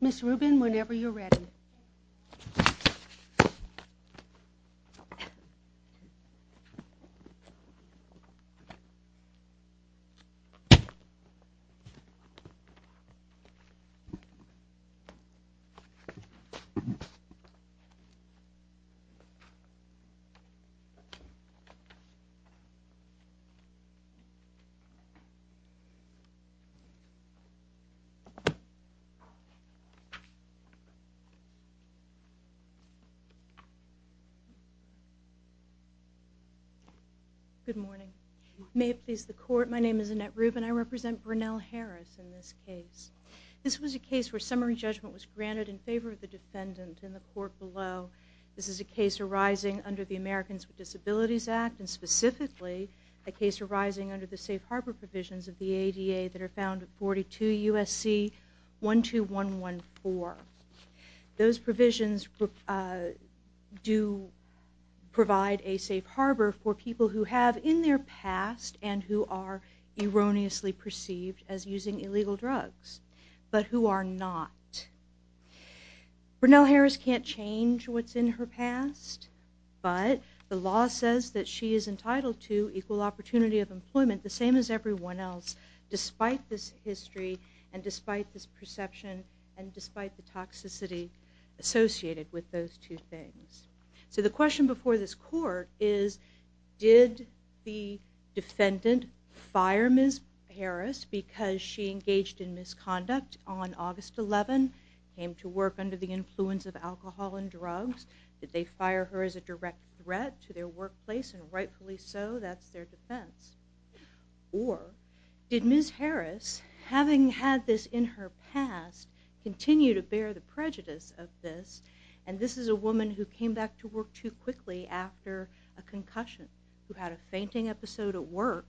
Ms. Rubin, whenever you're ready. Good morning. May it please the court, my name is Annette Rubin. I represent Brennell Harris in this case. This was a case where summary judgment was granted in favor of the defendant in the court below. This is a case arising under the Americans with Disabilities Act and specifically a case arising under the safe harbor provisions of the ADA that are found in 42 U.S.C. 12114. Those provisions do provide a safe harbor for people who have in their past and who are erroneously perceived as using illegal drugs, but who are not. Brennell Harris can't change what's in her past, but the law says that she is entitled to equal opportunity of employment, the same as everyone else, despite this history and despite this perception and despite the toxicity associated with those two things. So the question before this court is, did the defendant fire Ms. Harris because she engaged in misconduct on August 11, came to work under the influence of alcohol and drugs? Did they fire her as a direct threat to their workplace and rightfully so, that's their defense. Or, did Ms. Harris, having had this in her past, continue to bear the prejudice of this and this is a woman who came back to work too quickly after a concussion, who had a fainting episode at work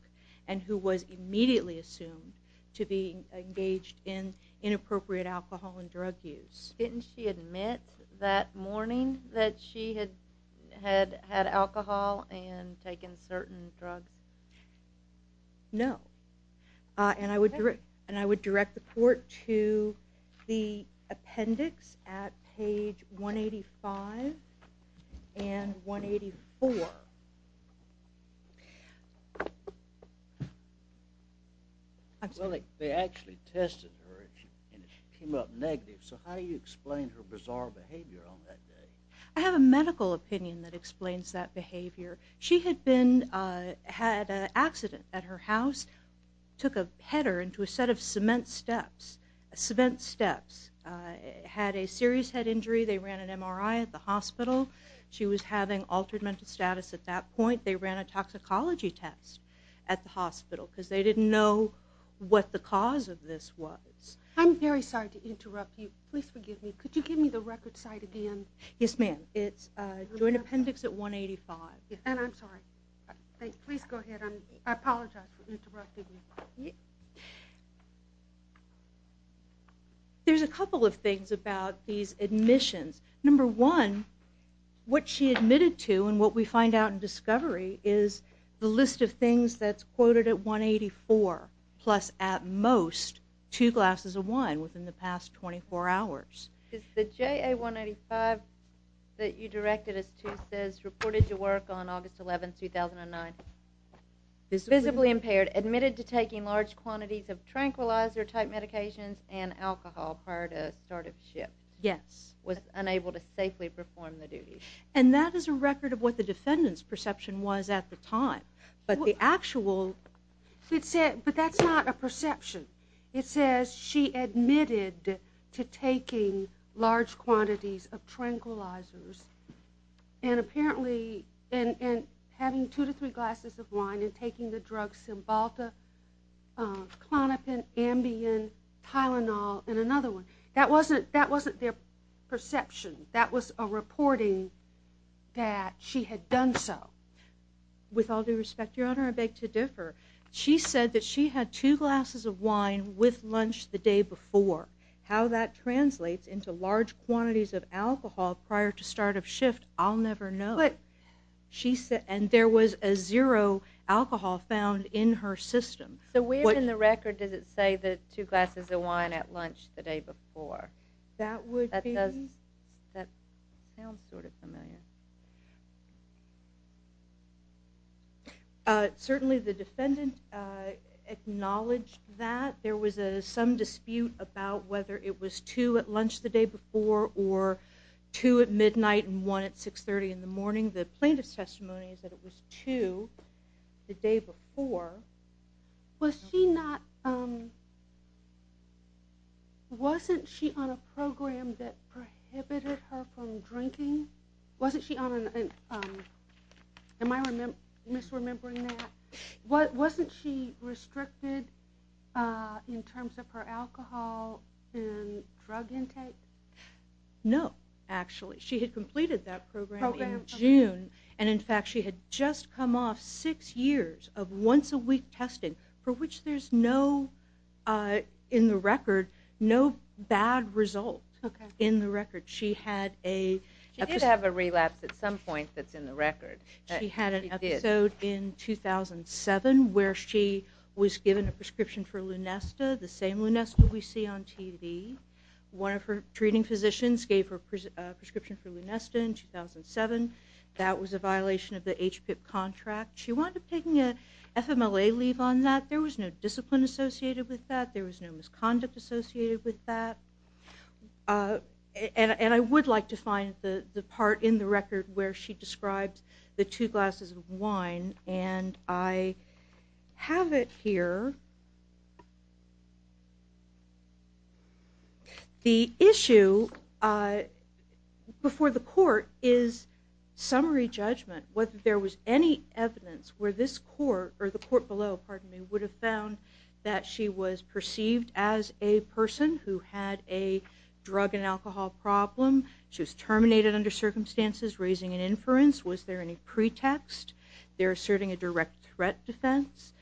and who was immediately assumed to be engaged in inappropriate alcohol and drug use? Didn't she admit that morning that she had had alcohol and taken certain drugs? No. And I would direct the court to the appendix at page 185 and 184. Well, they actually tested her and it came up negative. So how do you explain her bizarre behavior on that day? I have a medical opinion that explains that behavior. She had been, had an accident at her house, took a header into a set of cement steps, cement steps, had a serious head injury. They ran an MRI at the hospital. She was having altered mental status at that point. They ran a toxicology test at the hospital because they didn't know what the cause of this was. I'm very sorry to interrupt you. Please forgive me. Could you give me the record site again? Yes, ma'am. It's joint appendix at 185. And I'm sorry. Please go ahead. I apologize for interrupting you. There's a couple of things about these admissions. Number one, what she admitted to and what we find out in discovery is the list of things that's quoted at 184 plus at most two glasses of wine within the past 24 hours. Is the JA 185 that you directed as Tuesday's reported to work on August 11, 2009? Visibly impaired, admitted to taking large quantities of tranquilizer type medications and alcohol prior to start of shift. Yes. Was unable to safely perform the duty. And that is a record of what the defendant's perception was at the time. But the actual... But that's not a perception. It says she admitted to taking large quantities of tranquilizers and apparently having two to three glasses of wine and taking the drugs Cymbalta, Klonopin, Ambien, Tylenol and another one. That wasn't their perception. That was a perception. They had done so. With all due respect, Your Honor, I beg to differ. She said that she had two glasses of wine with lunch the day before. How that translates into large quantities of alcohol prior to start of shift, I'll never know. But... She said... And there was a zero alcohol found in her system. So where in the record does it say the two glasses of wine at lunch the day before? That would be... That sounds sort of familiar. Certainly the defendant acknowledged that. There was some dispute about whether it was two at lunch the day before or two at midnight and one at 630 in the morning. The plaintiff's testimony is that it was two the day before. Was she not... Wasn't she on a program that prohibited her from drinking? Wasn't she on a... Am I misremembering that? Wasn't she restricted in terms of her alcohol and drug intake? No, actually. She had completed that program in June and in fact she had just come off six years of once a week testing for which there's no... In the record, no bad result. In the record. She had a... She did have a relapse at some point that's in the record. She had an episode in 2007 where she was given a prescription for Lunesta, the same Lunesta we see on TV. One of her treating physicians gave her a prescription for Lunesta in 2007. That was a violation of the HPIP contract. She wound up taking an FMLA leave on that. There was no discipline associated with that. There was no misconduct associated with that. And I would like to find the part in the record where she describes the two glasses of wine and I have it here. The issue before the court is summary judgment whether there was any evidence where this court or the court below, pardon me, would have found that she was perceived as a person who had a drug and alcohol problem. She was terminated under circumstances raising an inference. Was there any pretext? They're asserting a direct threat defense.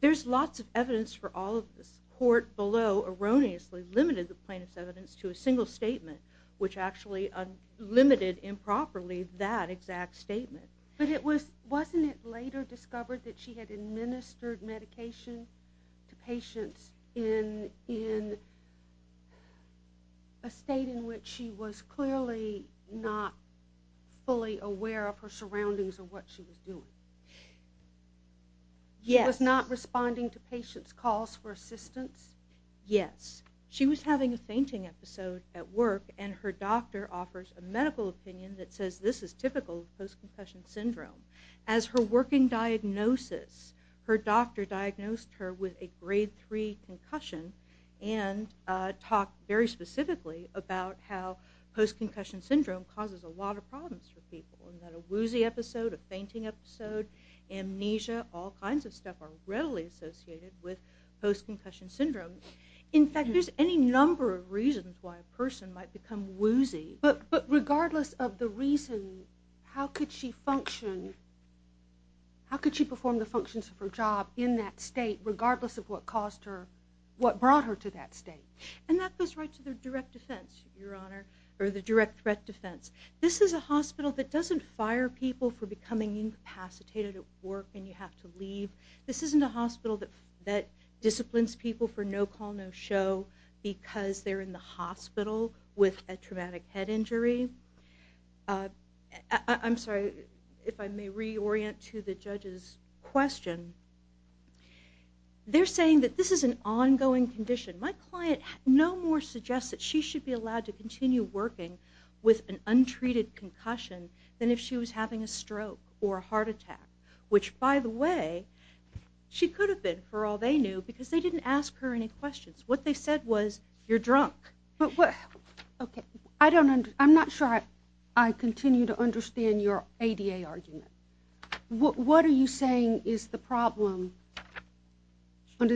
There's lots of evidence for all of this. The court below erroneously limited the plaintiff's evidence to a single statement which actually limited improperly that exact statement. But wasn't it later discovered that she had administered medication to patients in a state in which she was clearly not fully aware of her surroundings or what she was doing? Yes. Was not responding to patients' calls for assistance? Yes. She was having a fainting episode at work and her doctor offers a medical opinion that says this is typical of post-concussion syndrome. As her working diagnosis, her doctor diagnosed her with a grade 3 concussion and talked very specifically about how post-concussion syndrome causes a lot of problems for people. A woozy episode, a fainting episode, amnesia, all kinds of stuff are readily associated with post-concussion syndrome. In fact, there's any number of reasons why a person might become woozy. But regardless of the reason, how could she function, how could she perform the functions of her job in that state regardless of what caused her, what brought her to that state? And that goes right to the direct defense, Your Honor, or the direct threat defense. This is a hospital that doesn't fire people for becoming incapacitated at work and you have to leave. This isn't a hospital that disciplines people for no call, no show because they're in the hospital with a traumatic head injury. I'm sorry, if I may reorient to the judge's question. They're saying that this is an ongoing condition. My client no more suggests that she should be allowed to continue working with an untreated concussion than if she was having a stroke or a heart attack, which, by the way, she could have been for all they knew because they didn't ask her any questions. What they said was, you're drunk. Okay, I'm not sure I continue to understand your ADA argument. What are you saying is the problem? How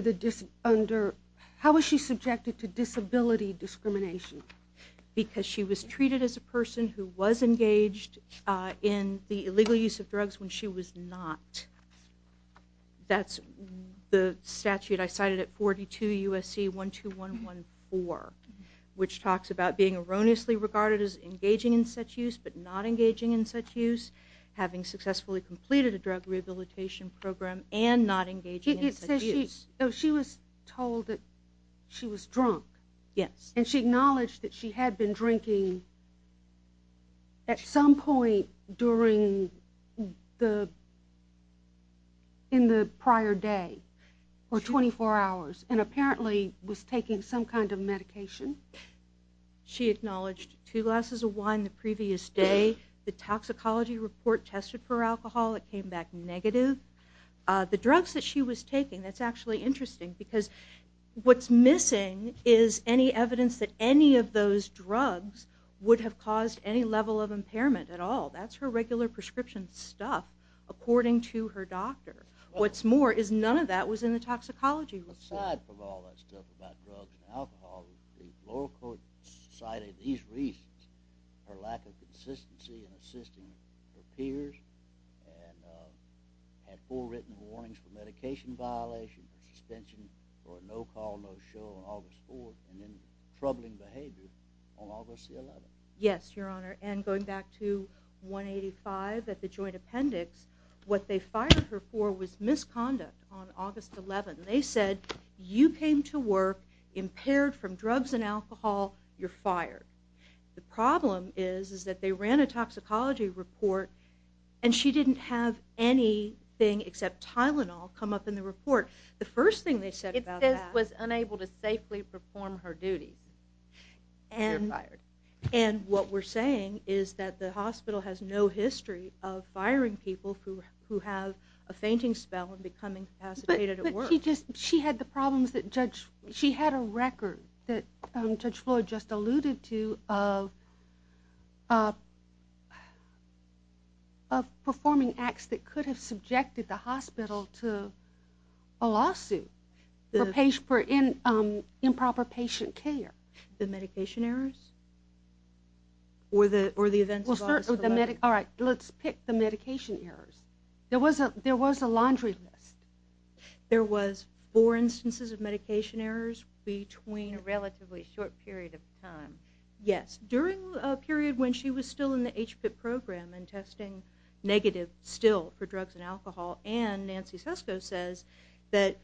is she subjected to disability discrimination? Because she was treated as a person who was engaged in the illegal use of drugs when she was not. That's the statute I cited at 42 U.S.C. 12114, which talks about being erroneously regarded as engaging in such use but not engaging in such use, having successfully completed a drug rehabilitation program and not engaging in such use. She was told that she was drunk. Yes. And she acknowledged that she had been drinking at some point during the prior day for 24 hours and apparently was taking some kind of medication. She acknowledged two glasses of wine the previous day. The toxicology report tested for alcohol. It came back negative. The drugs that she was taking, that's actually interesting because what's missing is any evidence that any of those drugs would have caused any level of impairment at all. That's her regular prescription stuff, according to her doctor. What's more is none of that was in the toxicology report. So the lower court cited these reasons, her lack of consistency in assisting her peers and had full written warnings for medication violations, suspension for a no-call, no-show on August 4th, and then troubling behavior on August the 11th. Yes, Your Honor, and going back to 185 at the joint appendix, what they fired her for was misconduct on August 11th. They said, you came to work impaired from drugs and alcohol. You're fired. The problem is that they ran a toxicology report, and she didn't have anything except Tylenol come up in the report. The first thing they said about that was unable to safely perform her duty, and you're fired. And what we're saying is that the hospital has no history of firing people who have a fainting spell and becoming incapacitated at work. But she had a record that Judge Floyd just alluded to of performing acts that could have subjected the hospital to a lawsuit for improper patient care. The medication errors? Or the events of August 11th? All right, let's pick the medication errors. There was a laundry list. There was four instances of medication errors between a relatively short period of time. Yes, during a period when she was still in the HPIP program and testing negative still for drugs and alcohol, and Nancy Sesko says that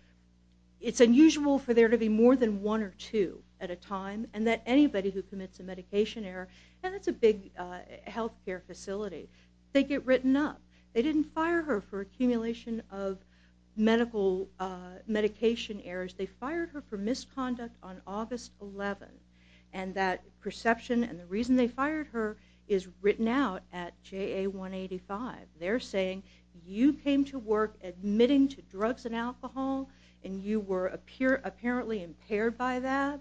it's unusual for there to be more than one or two at a time and that anybody who commits a medication error, and it's a big health care facility, they get written up. They didn't fire her for accumulation of medication errors. They fired her for misconduct on August 11th, and that perception and the reason they fired her is written out at JA 185. They're saying you came to work admitting to drugs and alcohol, and you were apparently impaired by that.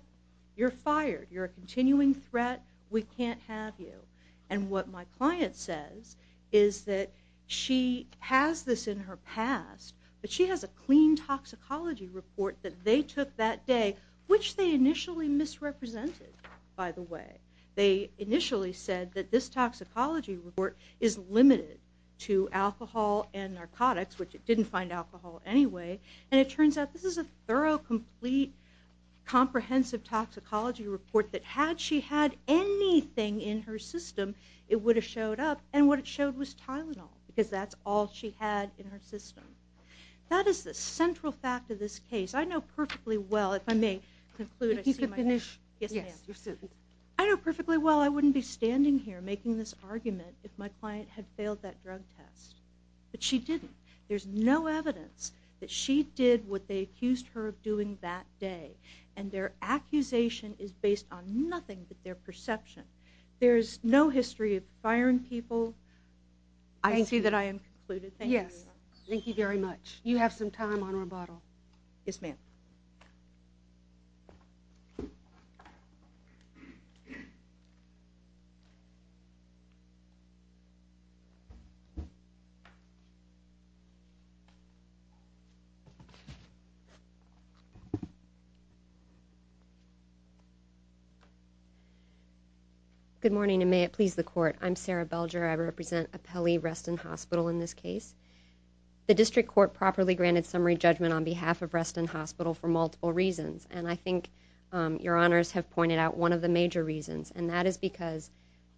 You're fired. You're a continuing threat. We can't have you. And what my client says is that she has this in her past, but she has a clean toxicology report that they took that day, which they initially misrepresented, by the way. They initially said that this toxicology report is limited to alcohol and narcotics, which it didn't find alcohol anyway, and it turns out this is a thorough, complete, comprehensive toxicology report that had she had anything in her system, it would have showed up, and what it showed was Tylenol because that's all she had in her system. That is the central fact of this case. I know perfectly well, if I may conclude. If you could finish. Yes, ma'am. I know perfectly well I wouldn't be standing here making this argument if my client had failed that drug test, but she didn't. There's no evidence that she did what they accused her of doing that day, and their accusation is based on nothing but their perception. There's no history of firing people. I see that I am concluded. Thank you very much. Yes. Thank you very much. You have some time on rebuttal. Yes, ma'am. Good morning, and may it please the Court. I'm Sarah Belger. I represent Apelli Reston Hospital in this case. The District Court properly granted summary judgment on behalf of Reston Hospital for multiple reasons, and I think Your Honors have pointed out one of the major reasons, and that is because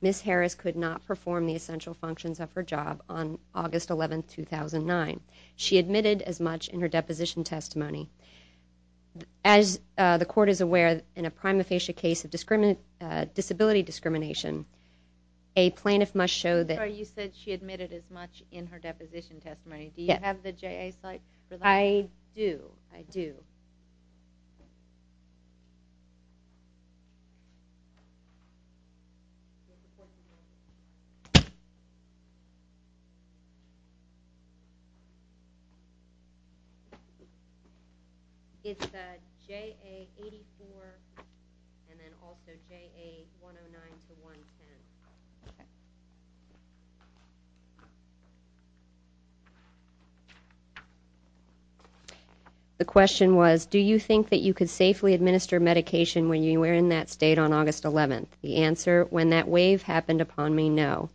Ms. Harris could not perform the essential functions of her job on August 11, 2009. She admitted as much in her deposition testimony. As the Court is aware, in a prima facie case of disability discrimination, a plaintiff must show that... Sorry, you said she admitted as much in her deposition testimony. Do you have the JA site for that? I do. I do. It's JA 84 and then also JA 109-110. The question was, do you think that you could safely administer medication when you were in that state on August 11? The answer, when that wave happened upon me, no.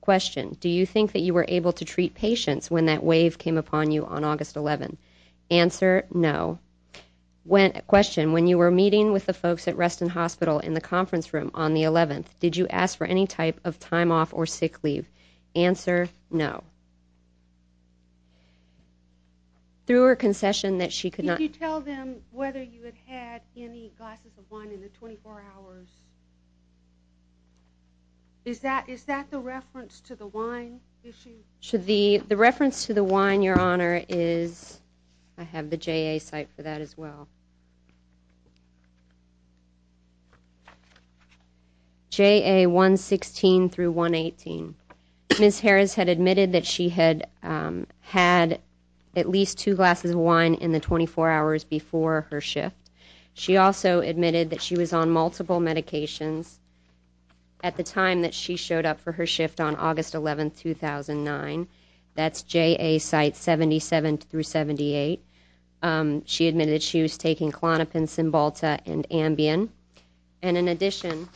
Question, do you think that you were able to treat patients when that wave came upon you on August 11? Answer, no. Question, when you were meeting with the folks at Reston Hospital in the conference room on the 11th, did you ask for any type of time off or sick leave? Answer, no. Through her concession that she could not... Did you tell them whether you had had any glasses of wine in the 24 hours? Is that the reference to the wine issue? The reference to the wine, Your Honor, is... I have the JA site for that as well. JA 116-118. Ms. Harris had admitted that she had had at least two glasses of wine in the 24 hours before her shift. She also admitted that she was on multiple medications at the time that she showed up for her shift on August 11, 2009. That's JA site 77-78. She admitted that she was taking Klonopin, Cymbalta, and Ambien. And in addition,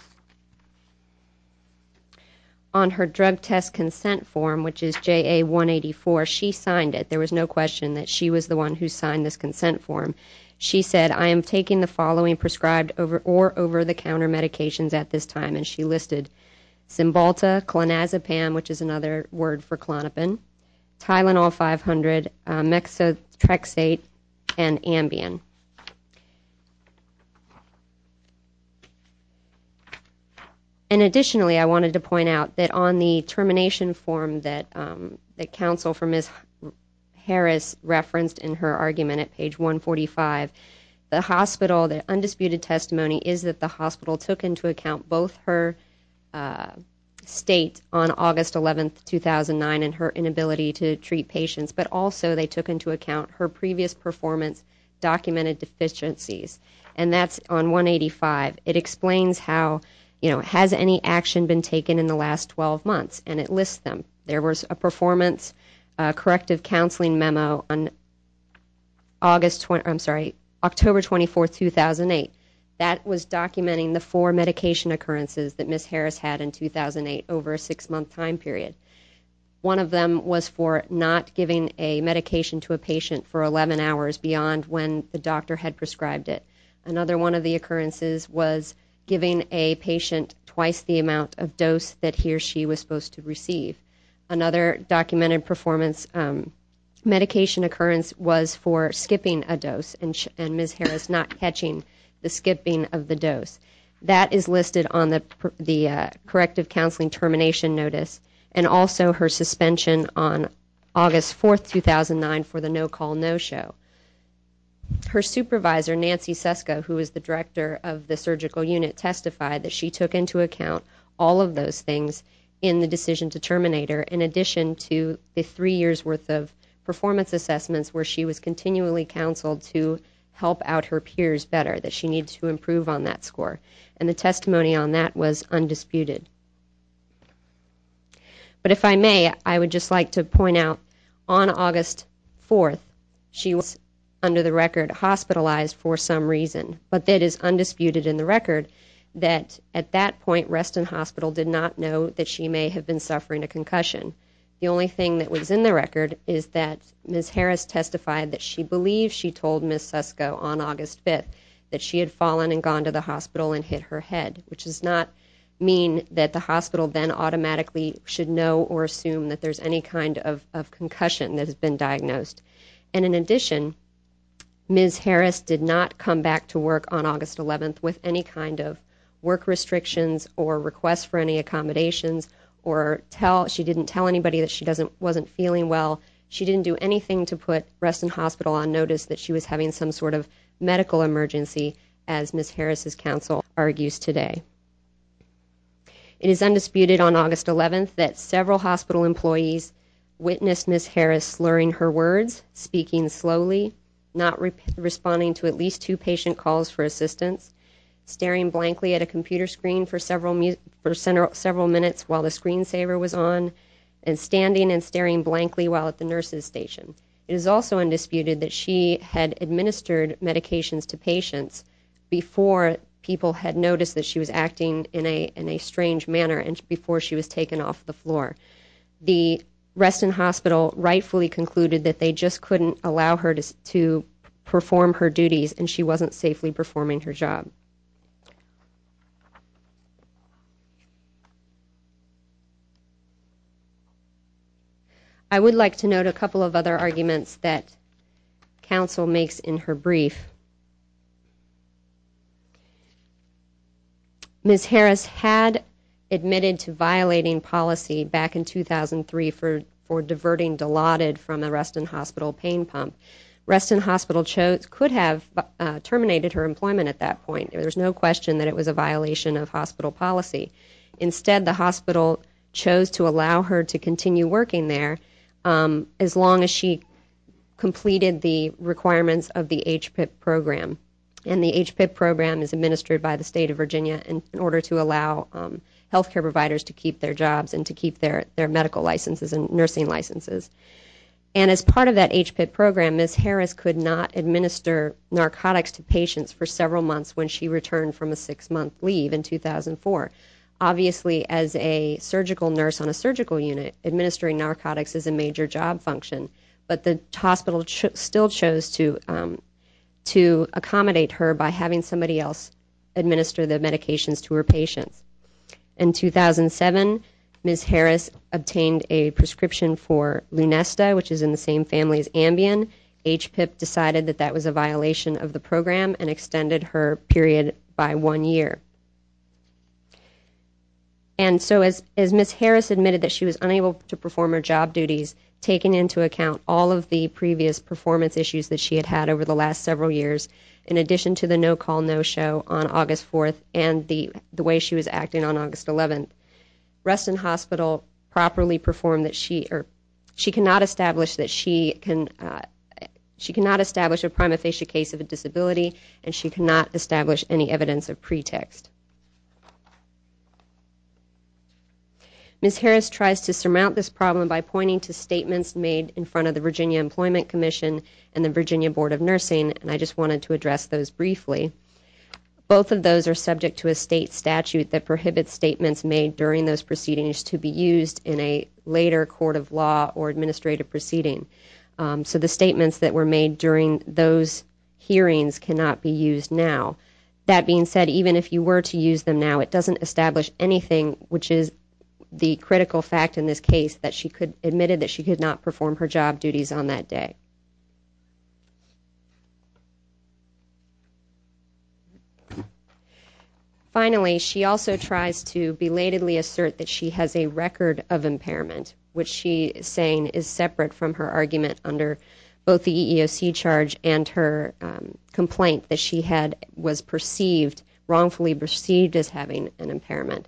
on her drug test consent form, which is JA 184, she signed it. There was no question that she was the one who signed this consent form. She said, I am taking the following prescribed or over-the-counter medications at this time, and she listed Cymbalta, Klonazepam, which is another word for Klonopin, Tylenol 500, Mexotrexate, and Ambien. And additionally, I wanted to point out that on the termination form that counsel for Ms. Harris referenced in her argument at page 145, the hospital, the undisputed testimony is that the hospital took into account both her state on August 11, 2009 and her inability to treat patients, but also they took into account her previous performance documented deficiencies. And that's on 185. It explains how, you know, has any action been taken in the last 12 months, and it lists them. There was a performance corrective counseling memo on August, I'm sorry, October 24, 2008. That was documenting the four medication occurrences that Ms. Harris had in 2008 over a six-month time period. One of them was for not giving a medication to a patient for 11 hours beyond when the doctor had prescribed it. Another one of the occurrences was giving a patient twice the amount of dose that he or she was supposed to receive. Another documented performance medication occurrence was for skipping a dose and Ms. Harris not catching the skipping of the dose. That is listed on the corrective counseling termination notice and also her suspension on August 4, 2009 for the no-call no-show. Her supervisor, Nancy Sesco, who is the director of the surgical unit, testified that she took into account all of those things in the decision to terminate her, in addition to the three years' worth of performance assessments where she was continually counseled to help out her peers better, that she needed to improve on that score. And the testimony on that was undisputed. But if I may, I would just like to point out on August 4th, she was under the record hospitalized for some reason. But it is undisputed in the record that at that point Reston Hospital did not know that she may have been suffering a concussion. The only thing that was in the record is that Ms. Harris testified that she believed she told Ms. Sesco on August 5th that she had fallen and gone to the hospital and hit her head, which does not mean that the hospital then automatically should know or assume that there's any kind of concussion that has been diagnosed. And in addition, Ms. Harris did not come back to work on August 11th with any kind of work restrictions or requests for any accommodations. She didn't tell anybody that she wasn't feeling well. She didn't do anything to put Reston Hospital on notice that she was having some sort of medical emergency, as Ms. Harris' counsel argues today. It is undisputed on August 11th that several hospital employees witnessed Ms. Harris slurring her words, speaking slowly, not responding to at least two patient calls for assistance, staring blankly at a computer screen for several minutes while the screensaver was on, and standing and staring blankly while at the nurse's station. It is also undisputed that she had administered medications to patients before people had noticed that she was acting in a strange manner and before she was taken off the floor. The Reston Hospital rightfully concluded that they just couldn't allow her to perform her duties and she wasn't safely performing her job. I would like to note a couple of other arguments that counsel makes in her brief. Ms. Harris had admitted to violating policy back in 2003 for diverting Dilaudid from a Reston Hospital pain pump. Reston Hospital could have terminated her employment at that point. There's no question that it was a violation of hospital policy. Instead, the hospital chose to allow her to continue working there as long as she completed the requirements of the HPIP program. And the HPIP program is administered by the State of Virginia in order to allow health care providers to keep their jobs and to keep their medical licenses and nursing licenses. And as part of that HPIP program, Ms. Harris could not administer narcotics to patients for several months when she returned from a six-month leave in 2004. Obviously, as a surgical nurse on a surgical unit, administering narcotics is a major job function, but the hospital still chose to accommodate her by having somebody else administer the medications to her patients. In 2007, Ms. Harris obtained a prescription for Lunesta, which is in the same family as Ambien. HPIP decided that that was a violation of the program and extended her period by one year. And so as Ms. Harris admitted that she was unable to perform her job duties, taking into account all of the previous performance issues that she had had over the last several years, in addition to the no-call, no-show on August 4th and the way she was acting on August 11th, Reston Hospital properly performed that she cannot establish a prima facie case of a disability and she cannot establish any evidence of pretext. Ms. Harris tries to surmount this problem by pointing to statements made in front of the Virginia Employment Commission and the Virginia Board of Nursing, and I just wanted to address those briefly. Both of those are subject to a state statute that prohibits statements made during those proceedings to be used in a later court of law or administrative proceeding. So the statements that were made during those hearings cannot be used now. That being said, even if you were to use them now, it doesn't establish anything, which is the critical fact in this case, that she admitted that she could not perform her job duties on that day. Finally, she also tries to belatedly assert that she has a record of impairment, which she is saying is separate from her argument under both the EEOC charge and her complaint that she was wrongfully perceived as having an impairment.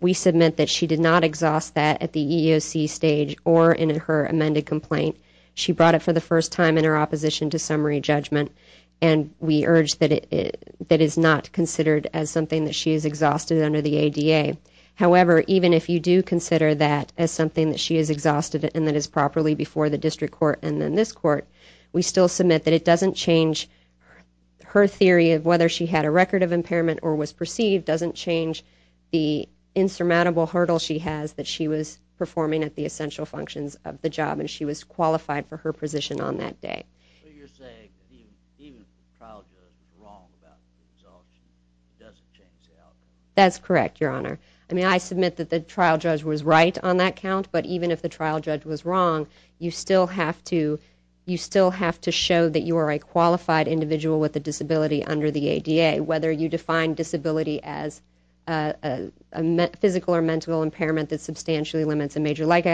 We submit that she did not exhaust that at the EEOC stage or in her amended complaint. She brought it for the first time in her opposition to summary judgment, and we urge that it is not considered as something that she has exhausted under the ADA. However, even if you do consider that as something that she has exhausted and that is properly before the district court and then this court, we still submit that it doesn't change her theory of whether she had a record of impairment or was perceived doesn't change the insurmountable hurdle she has that she was performing at the essential functions of the job and she was qualified for her position on that day. So you're saying even if the trial judge was wrong about the results, it doesn't change the outcome? That's correct, Your Honor. I mean, I submit that the trial judge was right on that count, but even if the trial judge was wrong, you still have to show that you are a qualified individual with a disability under the ADA, whether you define disability as a physical or mental impairment that substantially limits a major life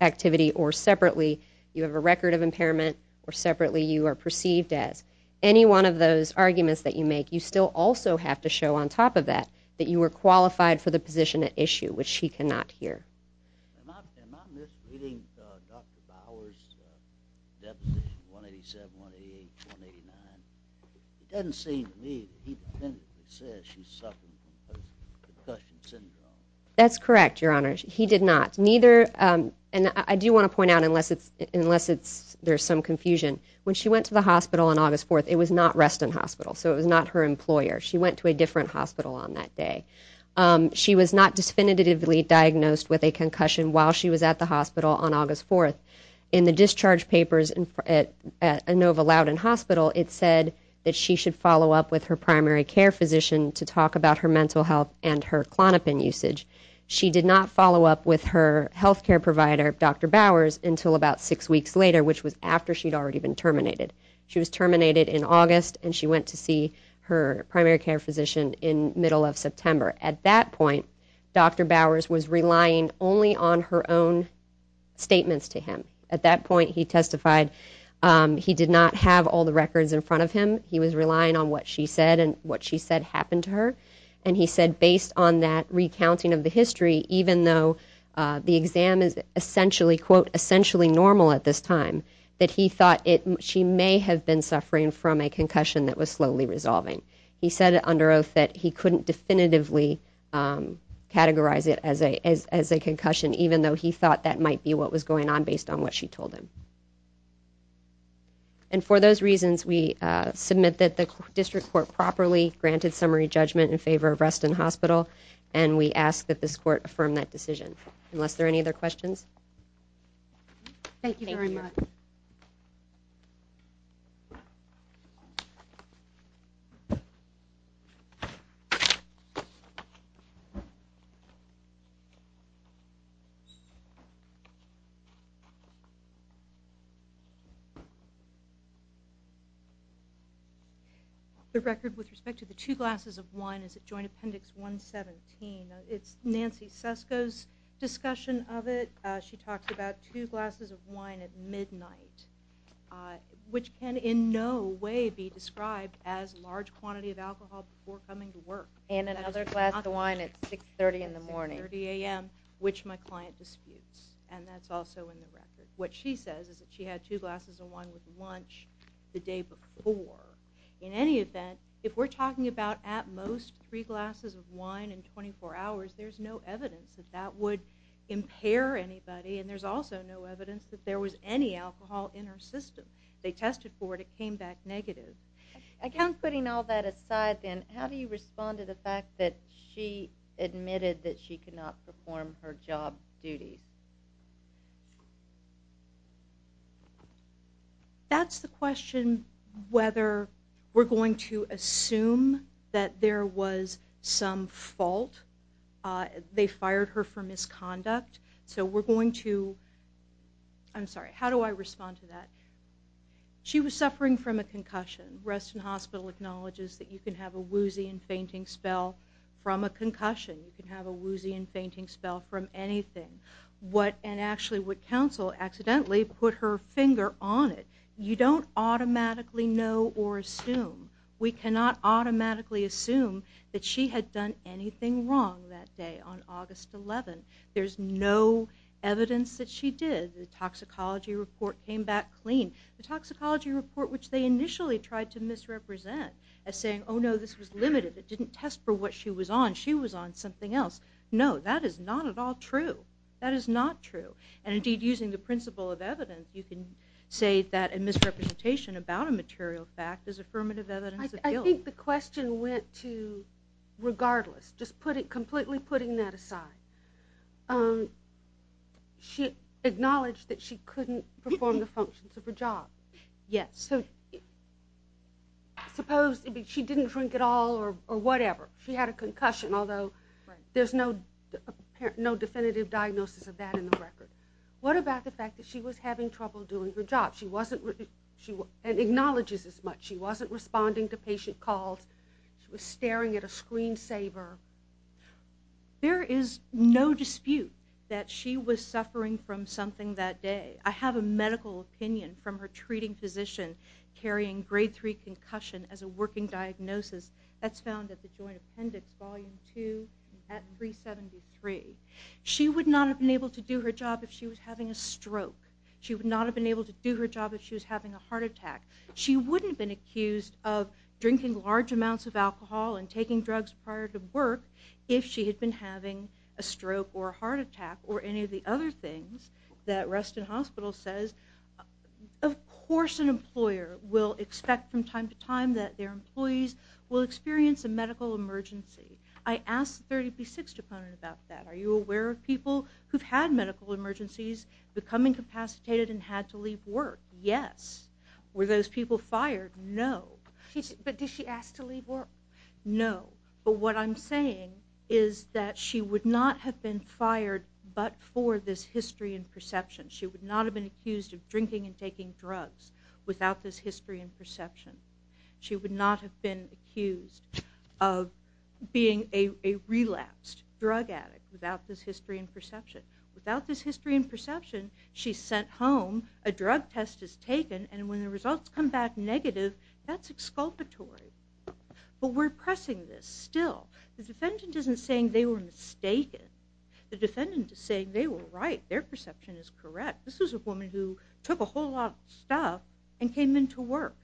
activity or separately you have a record of impairment or separately you are perceived as. Any one of those arguments that you make, you still also have to show on top of that that you were qualified for the position at issue, which she cannot hear. Am I misleading Dr. Bowers' deposition 187, 188, 189? It doesn't seem to me that he says she suffered concussion syndrome. That's correct, Your Honor. He did not. And I do want to point out, unless there's some confusion, when she went to the hospital on August 4th, it was not Reston Hospital, so it was not her employer. She went to a different hospital on that day. She was not definitively diagnosed with a concussion while she was at the hospital on August 4th. In the discharge papers at Inova Loudon Hospital, it said that she should follow up with her primary care physician to talk about her mental health and her Klonopin usage. She did not follow up with her health care provider, Dr. Bowers, until about 6 weeks later, which was after she'd already been terminated. She was terminated in August, and she went to see her primary care physician in middle of September. At that point, Dr. Bowers was relying only on her own statements to him. At that point, he testified he did not have all the records in front of him. He was relying on what she said and what she said happened to her. And he said, based on that recounting of the history, even though the exam is essentially, quote, essentially normal at this time, that he thought she may have been suffering from a concussion that was slowly resolving. He said under oath that he couldn't definitively categorize it as a concussion, even though he thought that might be what was going on based on what she told him. And for those reasons, we submit that the district court properly granted summary judgment in favor of Reston Hospital, and we ask that this court affirm that decision. Unless there are any other questions? Thank you very much. Thank you. The record with respect to the two glasses of wine is at Joint Appendix 117. It's Nancy Sesko's discussion of it. She talks about two glasses of wine at midnight, which can in no way be described as large quantity of alcohol before coming to work. And another glass of wine at 6.30 in the morning. At 6.30 a.m., which my client disputes, and that's also in the record. What she says is that she had two glasses of wine with lunch the day before. In any event, if we're talking about at most three glasses of wine in 24 hours, there's no evidence that that would impair anybody, and there's also no evidence that there was any alcohol in her system. They tested for it. It came back negative. Again, putting all that aside then, how do you respond to the fact that she admitted that she could not perform her job duties? That's the question whether we're going to assume that there was some fault. They fired her for misconduct. So we're going to – I'm sorry, how do I respond to that? She was suffering from a concussion. Reston Hospital acknowledges that you can have a woozy and fainting spell from a concussion. You can have a woozy and fainting spell from anything. And actually would counsel accidentally put her finger on it. You don't automatically know or assume. We cannot automatically assume that she had done anything wrong that day on August 11. There's no evidence that she did. The toxicology report came back clean. The toxicology report, which they initially tried to misrepresent as saying, oh, no, this was limited, it didn't test for what she was on, she was on something else. No, that is not at all true. That is not true. And indeed, using the principle of evidence, you can say that a misrepresentation about a material fact is affirmative evidence of guilt. I think the question went to regardless, just completely putting that aside. She acknowledged that she couldn't perform the functions of her job. Yes. So suppose she didn't drink at all or whatever. She had a concussion, although there's no definitive diagnosis of that in the record. What about the fact that she was having trouble doing her job and acknowledges as much? She wasn't responding to patient calls. She was staring at a screensaver. There is no dispute that she was suffering from something that day. I have a medical opinion from her treating physician carrying grade 3 concussion as a working diagnosis. That's found at the Joint Appendix Volume 2 at 373. She would not have been able to do her job if she was having a stroke. She would not have been able to do her job if she was having a heart attack. She wouldn't have been accused of drinking large amounts of alcohol and taking drugs prior to work if she had been having a stroke or a heart attack or any of the other things that Reston Hospital says. Of course an employer will expect from time to time that their employees will experience a medical emergency. I asked the 36th opponent about that. Are you aware of people who've had medical emergencies, become incapacitated, and had to leave work? Yes. Were those people fired? No. But did she ask to leave work? No, but what I'm saying is that she would not have been fired but for this history and perception. She would not have been accused of drinking and taking drugs without this history and perception. She would not have been accused of being a relapsed drug addict without this history and perception. Without this history and perception, she's sent home, a drug test is taken, and when the results come back negative, that's exculpatory. But we're pressing this still. The defendant isn't saying they were mistaken. The defendant is saying they were right. Their perception is correct. This was a woman who took a whole lot of stuff and came into work,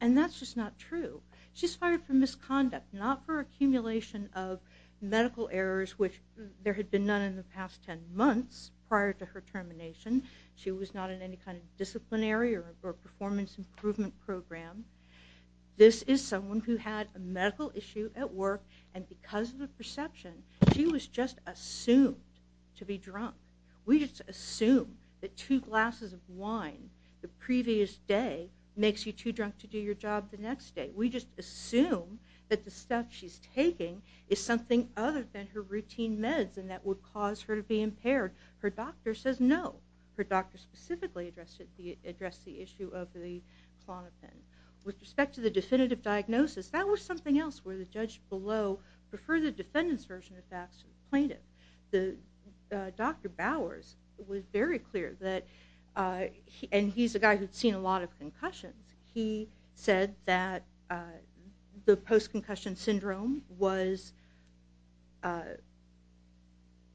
and that's just not true. She's fired for misconduct, not for accumulation of medical errors, which there had been none in the past 10 months prior to her termination. She was not in any kind of disciplinary or performance improvement program. This is someone who had a medical issue at work, and because of the perception, she was just assumed to be drunk. We just assume that two glasses of wine the previous day makes you too drunk to do your job the next day. We just assume that the stuff she's taking is something other than her routine meds and that would cause her to be impaired. Her doctor says no. Her doctor specifically addressed the issue of the flaw in her pen. With respect to the definitive diagnosis, that was something else where the judge below preferred the defendant's version of facts to the plaintiff. Dr. Bowers was very clear that, and he's a guy who'd seen a lot of concussions, he said that the post-concussion syndrome was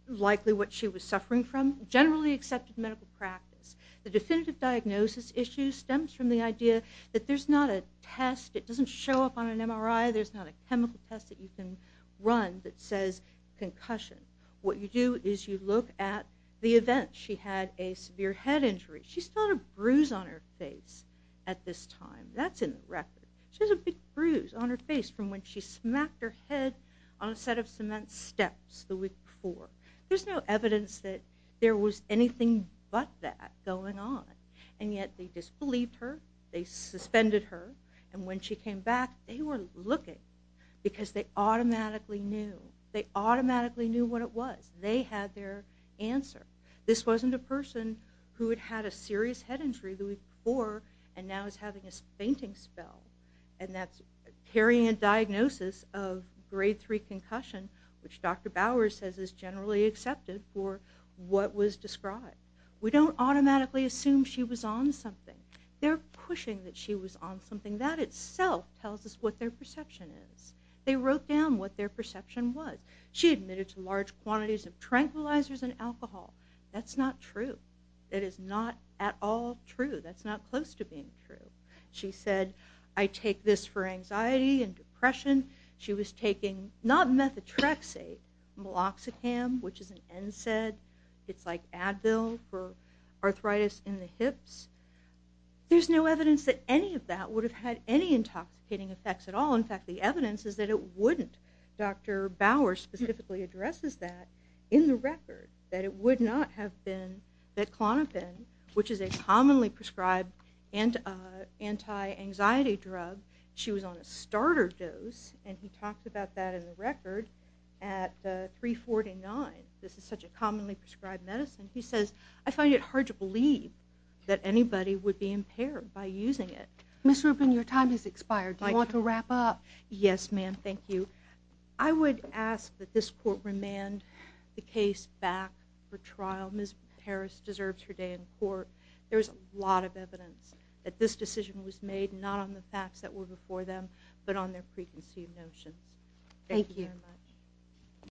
likely what she was suffering from, generally accepted medical practice. The definitive diagnosis issue stems from the idea that there's not a test, it doesn't show up on an MRI, there's not a chemical test that you can run that says concussion. What you do is you look at the event. She had a severe head injury. She still had a bruise on her face at this time. That's in the record. She has a big bruise on her face from when she smacked her head on a set of cement steps the week before. There's no evidence that there was anything but that going on, and yet they disbelieved her, they suspended her, and when she came back they were looking because they automatically knew. They automatically knew what it was. They had their answer. This wasn't a person who had had a serious head injury the week before and now is having a fainting spell, and that's carrying a diagnosis of grade 3 concussion, which Dr. Bowers says is generally accepted for what was described. We don't automatically assume she was on something. They're pushing that she was on something. That itself tells us what their perception is. They wrote down what their perception was. She admitted to large quantities of tranquilizers and alcohol. That's not true. That is not at all true. That's not close to being true. She said, I take this for anxiety and depression. She was taking not methotrexate, meloxicam, which is an NSAID. It's like Advil for arthritis in the hips. There's no evidence that any of that would have had any intoxicating effects at all. In fact, the evidence is that it wouldn't. Dr. Bowers specifically addresses that in the record, that it would not have been betclonibine, which is a commonly prescribed anti-anxiety drug. She was on a starter dose, and he talked about that in the record, at 349. This is such a commonly prescribed medicine. He says, I find it hard to believe that anybody would be impaired by using it. Ms. Rubin, your time has expired. Do you want to wrap up? Yes, ma'am. Thank you. I would ask that this court remand the case back for trial. Ms. Harris deserves her day in court. There's a lot of evidence that this decision was made not on the facts that were before them, but on their preconceived notions. Thank you very much.